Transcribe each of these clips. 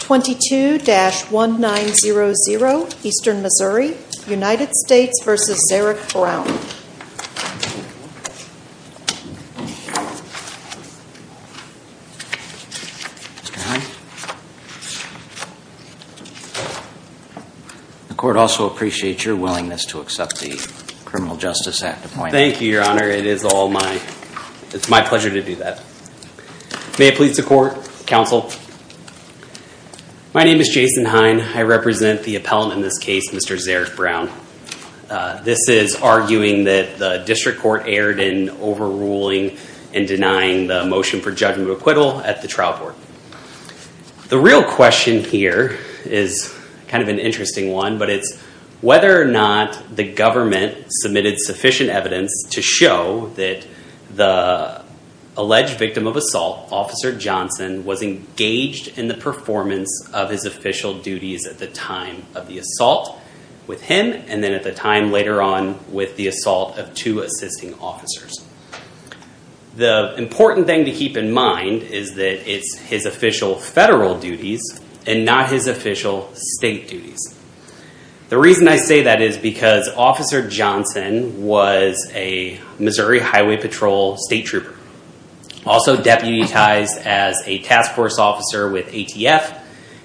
22-1900 Eastern Missouri United States v. Zerak Brown The court also appreciates your willingness to accept the Criminal Justice Act appointment. Thank you, Your Honor. It is my pleasure to do that. May it please the court, counsel. My name is Jason Hine. I represent the appellant in this case, Mr. Zerak Brown. This is arguing that the district court erred in overruling and denying the motion for judgment of acquittal at the trial court. The real question here is kind of an interesting one, but it's whether or not the government submitted sufficient evidence to show that the alleged victim of assault, Officer Johnson, was engaged in the performance of his official duties at the time of the assault with him, and then at the time later on with the assault of two assisting officers. The important thing to keep in mind is that it's his official federal duties and not his official state duties. The reason I say that is because Officer Johnson was a Missouri Highway Patrol state trooper, also deputized as a task force officer with ATF,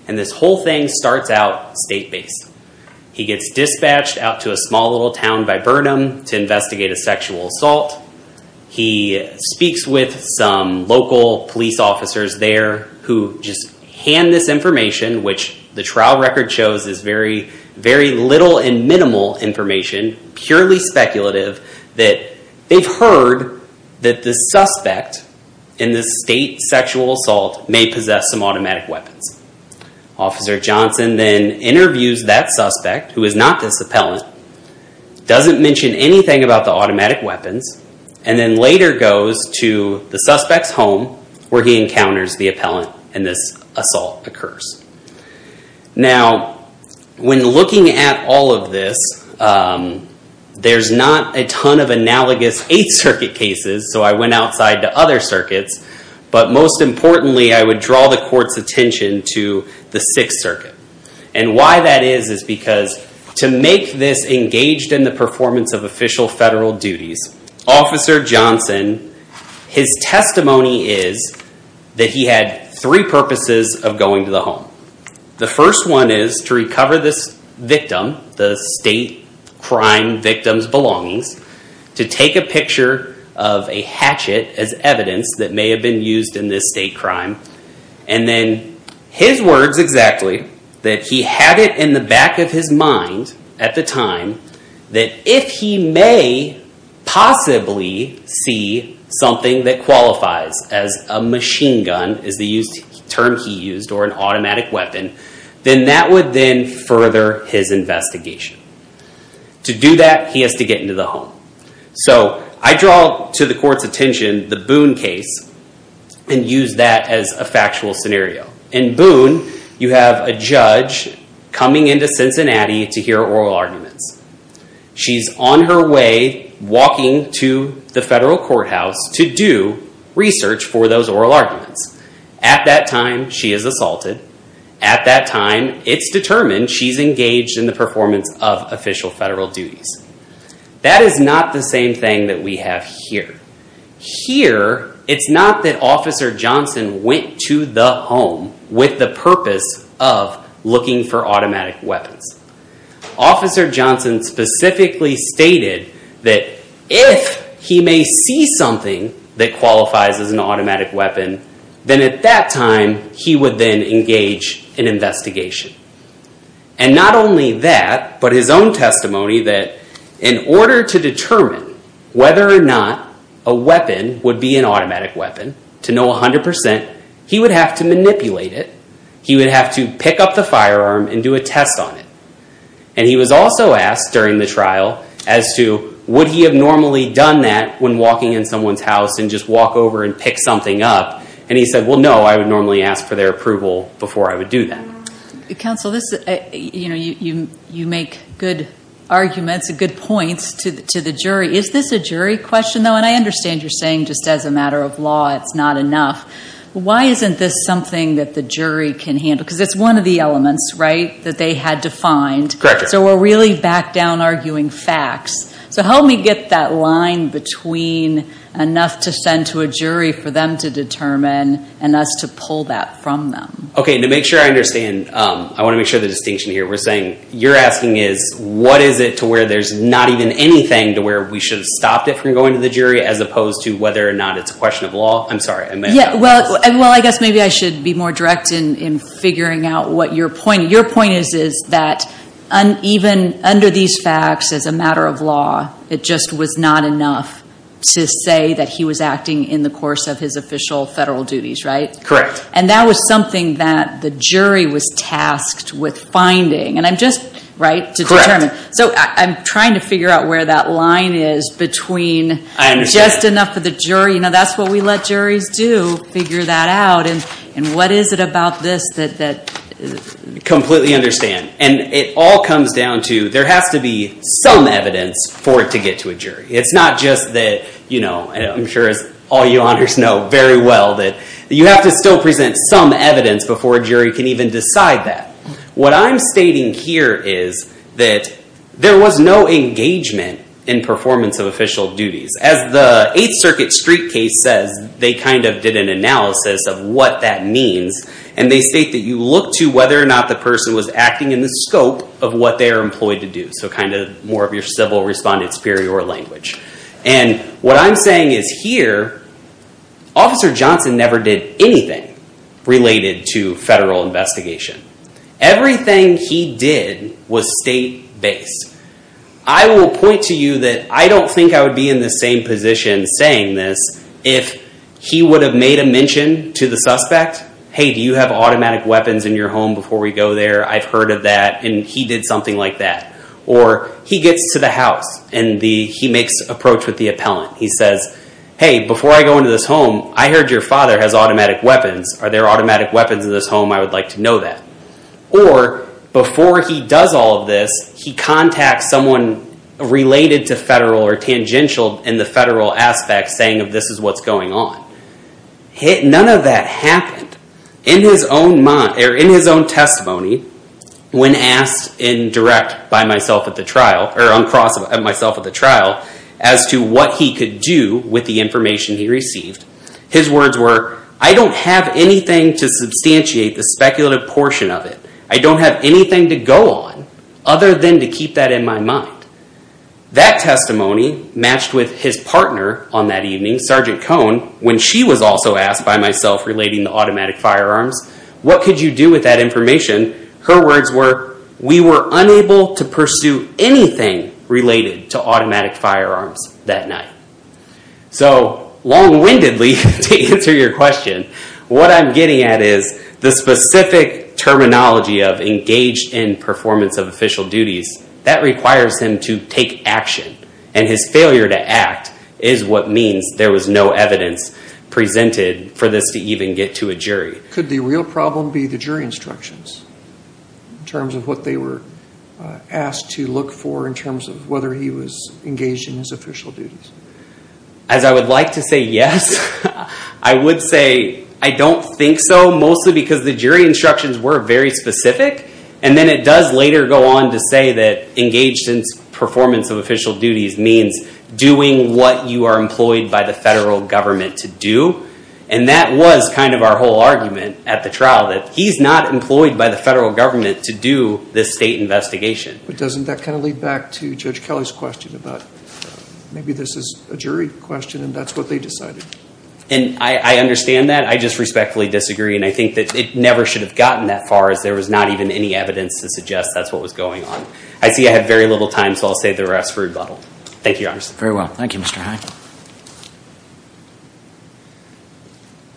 and this whole thing starts out state-based. He gets dispatched out to a small little town by Burnham to investigate a sexual assault. He speaks with some local police officers there who just hand this information, which the trial record shows is very little and minimal information, purely speculative, that they've heard that the suspect in this state sexual assault may possess some automatic weapons. Officer Johnson then interviews that suspect, who is not this appellant, doesn't mention anything about the automatic weapons, and then later goes to the suspect's home where he encounters the appellant and this assault occurs. Now, when looking at all of this, there's not a ton of analogous Eighth Circuit cases, so I went outside to other circuits, but most importantly, I would draw the court's attention to the Sixth Circuit. And why that is is because to make this engaged in the performance of official federal duties, Officer Johnson, his testimony is that he had three purposes of going to the home. The first one is to recover this victim, the state crime victim's belongings, to take a picture of a hatchet as evidence that may have been used in this state crime, and then his words exactly, that he had it in the back of his mind at the time that if he may possibly see something that qualifies as a machine gun, is the term he used, or an automatic weapon, then that would then further his investigation. To do that, he has to get into the home. So I draw to the court's attention the Boone case and use that as a factual scenario. In Boone, you have a judge coming into Cincinnati to hear oral arguments. She's on her way walking to the federal courthouse to do research for those oral arguments. At that time, she is assaulted. At that time, it's determined she's engaged in the performance of official federal duties. That is not the same thing that we have here. Here, it's not that Officer Johnson went to the home with the purpose of looking for automatic weapons. Officer Johnson specifically stated that if he may see something that qualifies as an automatic weapon, then at that time, he would then engage in investigation. And not only that, but his own testimony that in order to determine whether or not a weapon would be an automatic weapon, to know 100%, he would have to manipulate it. He would have to pick up the firearm and do a test on it. And he was also asked during the trial as to would he have normally done that when walking in someone's house and just walk over and pick something up. And he said, well, no, I would normally ask for their approval before I would do that. Counsel, you make good arguments and good points to the jury. Is this a jury question, though? And I understand you're saying just as a matter of law, it's not enough. Why isn't this something that the jury can handle? Because it's one of the elements, right, that they had to find. Correct. So we're really back down arguing facts. So help me get that line between enough to send to a jury for them to determine and us to pull that from them. Okay, to make sure I understand, I want to make sure of the distinction here. You're asking is what is it to where there's not even anything to where we should have stopped it from going to the jury as opposed to whether or not it's a question of law? I'm sorry. Well, I guess maybe I should be more direct in figuring out what your point is. Even under these facts as a matter of law, it just was not enough to say that he was acting in the course of his official federal duties, right? Correct. And that was something that the jury was tasked with finding. And I'm just, right, to determine. So I'm trying to figure out where that line is between just enough for the jury. You know, that's what we let juries do, figure that out. And what is it about this that… Completely understand. And it all comes down to there has to be some evidence for it to get to a jury. It's not just that, you know, I'm sure as all you honors know very well that you have to still present some evidence before a jury can even decide that. What I'm stating here is that there was no engagement in performance of official duties. As the Eighth Circuit Street case says, they kind of did an analysis of what that means. And they state that you look to whether or not the person was acting in the scope of what they are employed to do. So kind of more of your civil respondent superior language. And what I'm saying is here, Officer Johnson never did anything related to federal investigation. Everything he did was state-based. I will point to you that I don't think I would be in the same position saying this if he would have made a mention to the suspect. Hey, do you have automatic weapons in your home before we go there? I've heard of that. And he did something like that. Or he gets to the house and he makes approach with the appellant. He says, hey, before I go into this home, I heard your father has automatic weapons. Are there automatic weapons in this home? I would like to know that. Or before he does all of this, he contacts someone related to federal or tangential in the federal aspect saying this is what's going on. None of that happened. In his own testimony, when asked in direct by myself at the trial, or uncrossed by myself at the trial, as to what he could do with the information he received, his words were, I don't have anything to substantiate the speculative portion of it. I don't have anything to go on other than to keep that in my mind. That testimony matched with his partner on that evening, Sergeant Cohn, when she was also asked by myself relating to automatic firearms, what could you do with that information? Her words were, we were unable to pursue anything related to automatic firearms that night. So long-windedly, to answer your question, what I'm getting at is the specific terminology of engaged in performance of official duties, that requires him to take action. And his failure to act is what means there was no evidence presented for this to even get to a jury. Could the real problem be the jury instructions in terms of what they were asked to look for in terms of whether he was engaged in his official duties? As I would like to say yes, I would say I don't think so, mostly because the jury instructions were very specific. And then it does later go on to say that engaged in performance of official duties means doing what you are employed by the federal government to do. And that was kind of our whole argument at the trial, that he's not employed by the federal government to do this state investigation. But doesn't that kind of lead back to Judge Kelly's question about maybe this is a jury question and that's what they decided? And I understand that. I just respectfully disagree, and I think that it never should have gotten that far as there was not even any evidence to suggest that's what was going on. I see I have very little time, so I'll save the rest for rebuttal. Thank you, Your Honors. Very well. Thank you, Mr. Hyde.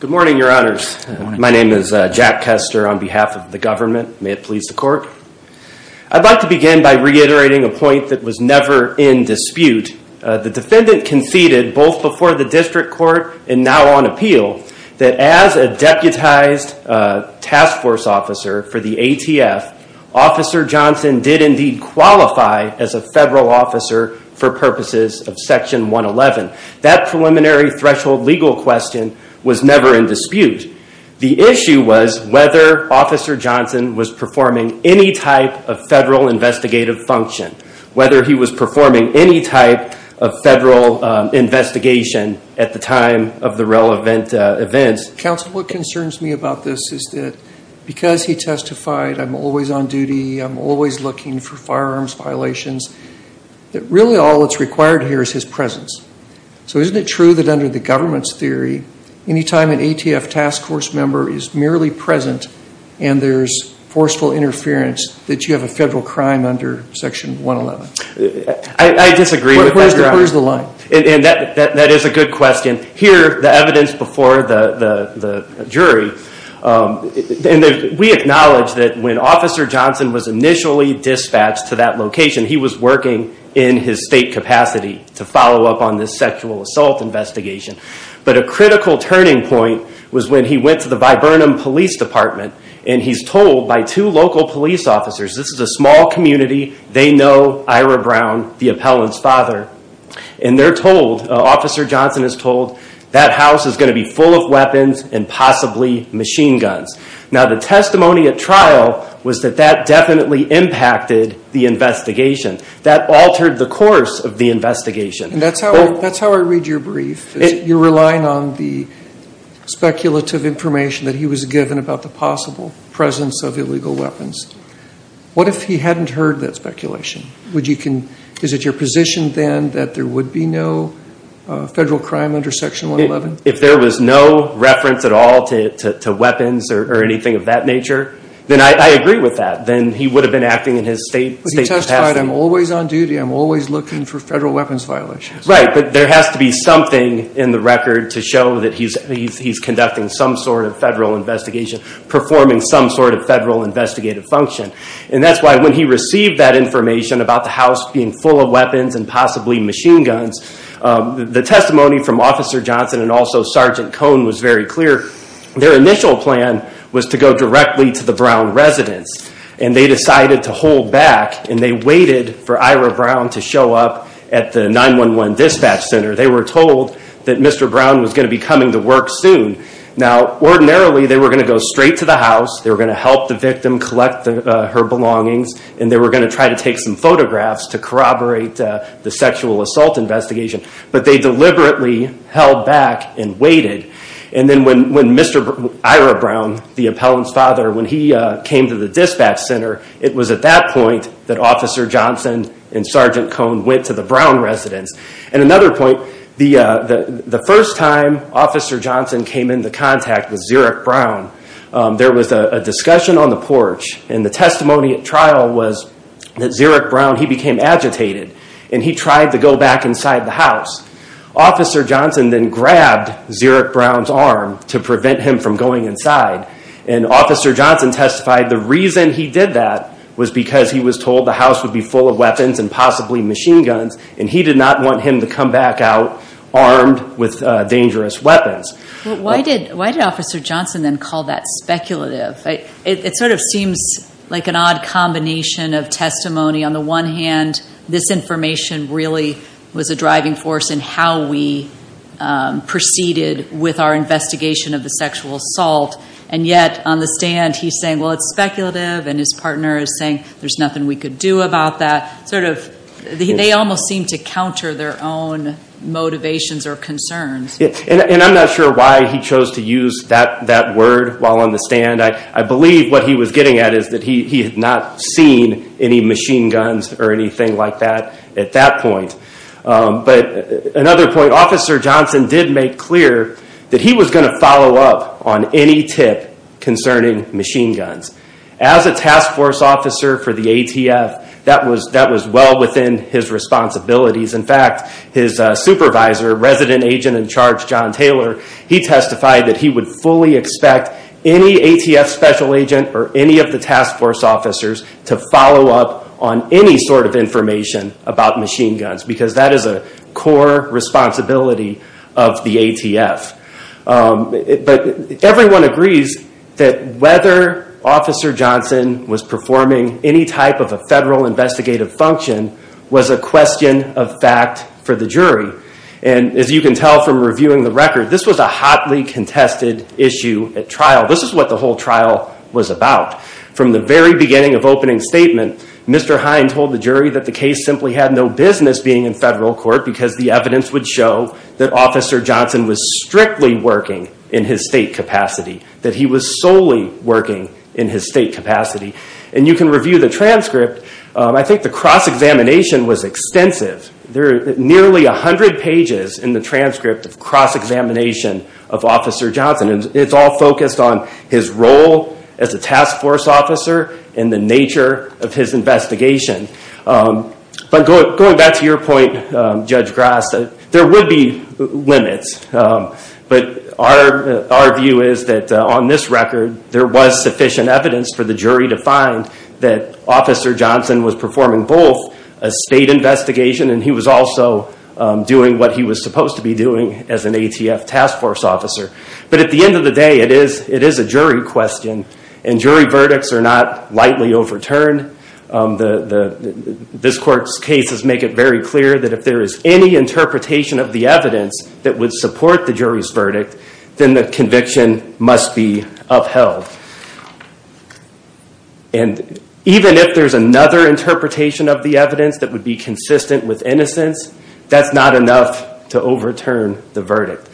Good morning, Your Honors. Good morning. My name is Jack Kester on behalf of the government. May it please the Court. I'd like to begin by reiterating a point that was never in dispute. The defendant conceded, both before the district court and now on appeal, that as a deputized task force officer for the ATF, Officer Johnson did indeed qualify as a federal officer for purposes of Section 111. The issue was whether Officer Johnson was performing any type of federal investigative function, whether he was performing any type of federal investigation at the time of the relevant events. Counsel, what concerns me about this is that because he testified, I'm always on duty, I'm always looking for firearms violations, that really all that's required here is his presence. So isn't it true that under the government's theory, any time an ATF task force member is merely present and there's forceful interference, that you have a federal crime under Section 111? I disagree with that, Your Honors. Where's the line? That is a good question. Here, the evidence before the jury, we acknowledge that when Officer Johnson was initially dispatched to that location, he was working in his state capacity to follow up on this sexual assault investigation. But a critical turning point was when he went to the Viburnum Police Department and he's told by two local police officers, this is a small community, they know Ira Brown, the appellant's father, and they're told, Officer Johnson is told, that house is going to be full of weapons and possibly machine guns. Now the testimony at trial was that that definitely impacted the investigation. That altered the course of the investigation. That's how I read your brief. You're relying on the speculative information that he was given about the possible presence of illegal weapons. What if he hadn't heard that speculation? Is it your position then that there would be no federal crime under Section 111? If there was no reference at all to weapons or anything of that nature, then I agree with that. Then he would have been acting in his state capacity. But he testified, I'm always on duty, I'm always looking for federal weapons violations. Right, but there has to be something in the record to show that he's conducting some sort of federal investigation, performing some sort of federal investigative function. And that's why when he received that information about the house being full of weapons and possibly machine guns, the testimony from Officer Johnson and also Sergeant Cone was very clear. Their initial plan was to go directly to the Brown residence. And they decided to hold back and they waited for Ira Brown to show up at the 911 dispatch center. They were told that Mr. Brown was going to be coming to work soon. Now ordinarily they were going to go straight to the house, they were going to help the victim collect her belongings, and they were going to try to take some photographs to corroborate the sexual assault investigation. But they deliberately held back and waited. And then when Mr. Ira Brown, the appellant's father, when he came to the dispatch center, it was at that point that Officer Johnson and Sergeant Cone went to the Brown residence. And another point, the first time Officer Johnson came into contact with Zurich Brown, there was a discussion on the porch and the testimony at trial was that Zurich Brown, he became agitated and he tried to go back inside the house. Officer Johnson then grabbed Zurich Brown's arm to prevent him from going inside. And Officer Johnson testified the reason he did that was because he was told the house would be full of weapons and possibly machine guns, and he did not want him to come back out armed with dangerous weapons. Why did Officer Johnson then call that speculative? It sort of seems like an odd combination of testimony. On the one hand, this information really was a driving force in how we proceeded with our investigation of the sexual assault. And yet on the stand he's saying, well, it's speculative, and his partner is saying there's nothing we could do about that. Sort of they almost seem to counter their own motivations or concerns. And I'm not sure why he chose to use that word while on the stand. I believe what he was getting at is that he had not seen any machine guns or anything like that at that point. But another point, Officer Johnson did make clear that he was going to follow up on any tip concerning machine guns. As a task force officer for the ATF, that was well within his responsibilities. In fact, his supervisor, resident agent in charge, John Taylor, he testified that he would fully expect any ATF special agent or any of the task force officers to follow up on any sort of information about machine guns because that is a core responsibility of the ATF. But everyone agrees that whether Officer Johnson was performing any type of a federal investigative function was a question of fact for the jury. And as you can tell from reviewing the record, this was a hotly contested issue at trial. This is what the whole trial was about. From the very beginning of opening statement, Mr. Hines told the jury that the case simply had no business being in federal court because the evidence would show that Officer Johnson was strictly working in his state capacity, that he was solely working in his state capacity. And you can review the transcript. I think the cross-examination was extensive. There are nearly a hundred pages in the transcript of cross-examination of Officer Johnson. It's all focused on his role as a task force officer and the nature of his investigation. But going back to your point, Judge Grass, there would be limits. But our view is that on this record, there was sufficient evidence for the jury to find that Officer Johnson was performing both a state investigation and he was also doing what he was supposed to be doing as an ATF task force officer. But at the end of the day, it is a jury question, and jury verdicts are not lightly overturned. This court's cases make it very clear that if there is any interpretation of the evidence that would support the jury's verdict, then the conviction must be upheld. And even if there's another interpretation of the evidence that would be consistent with innocence, that's not enough to overturn the verdict.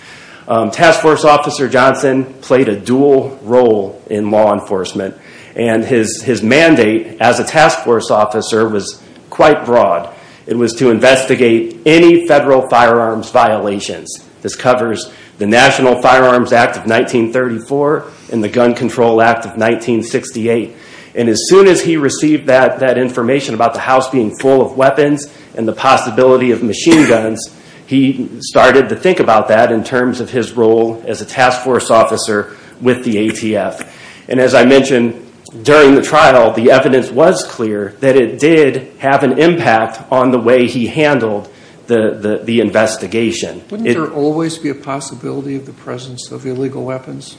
Task force officer Johnson played a dual role in law enforcement, and his mandate as a task force officer was quite broad. It was to investigate any federal firearms violations. This covers the National Firearms Act of 1934 and the Gun Control Act of 1968. And as soon as he received that information about the house being full of weapons and the possibility of machine guns, he started to think about that in terms of his role as a task force officer with the ATF. And as I mentioned during the trial, the evidence was clear that it did have an impact on the way he handled the investigation. Wouldn't there always be a possibility of the presence of illegal weapons?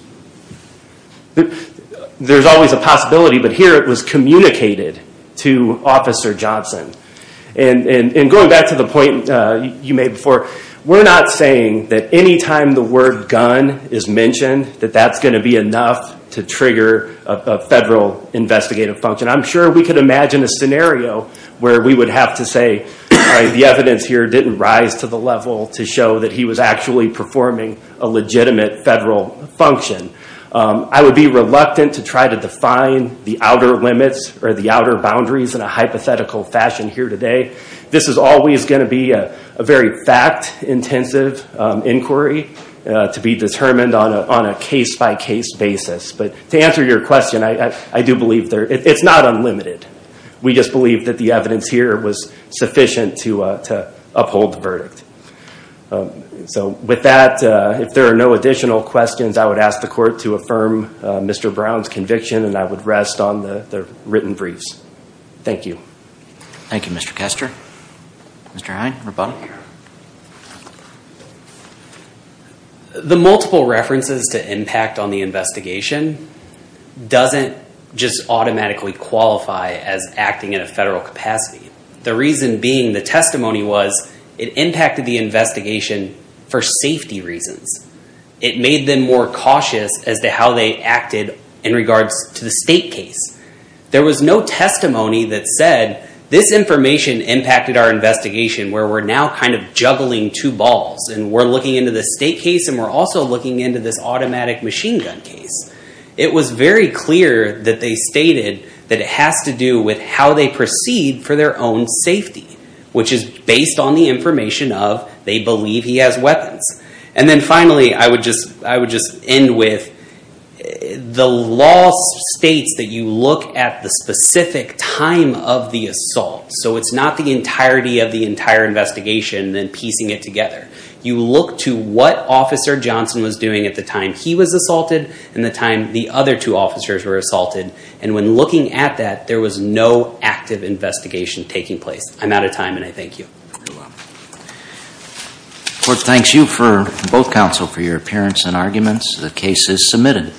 There's always a possibility, but here it was communicated to Officer Johnson. And going back to the point you made before, we're not saying that any time the word gun is mentioned, that that's going to be enough to trigger a federal investigative function. I'm sure we could imagine a scenario where we would have to say, the evidence here didn't rise to the level to show that he was actually performing a legitimate federal function. I would be reluctant to try to define the outer limits or the outer boundaries in a hypothetical fashion here today. This is always going to be a very fact-intensive inquiry to be determined on a case-by-case basis. But to answer your question, I do believe it's not unlimited. We just believe that the evidence here was sufficient to uphold the verdict. So with that, if there are no additional questions, I would ask the court to affirm Mr. Brown's conviction, and I would rest on the written briefs. Thank you. Thank you, Mr. Kester. Mr. Heine, rebuttal? The multiple references to impact on the investigation doesn't just identify as acting in a federal capacity, the reason being the testimony was it impacted the investigation for safety reasons. It made them more cautious as to how they acted in regards to the state case. There was no testimony that said this information impacted our investigation where we're now kind of juggling two balls, and we're looking into the state case and we're also looking into this automatic machine gun case. It was very clear that they stated that it has to do with how they proceed for their own safety, which is based on the information of they believe he has weapons. And then finally, I would just end with the law states that you look at the specific time of the assault, so it's not the entirety of the entire investigation and then piecing it together. You look to what Officer Johnson was doing at the time he was assaulted and the time the other two officers were assaulted. And when looking at that, there was no active investigation taking place. I'm out of time, and I thank you. Court thanks you, both counsel, for your appearance and arguments. The case is submitted.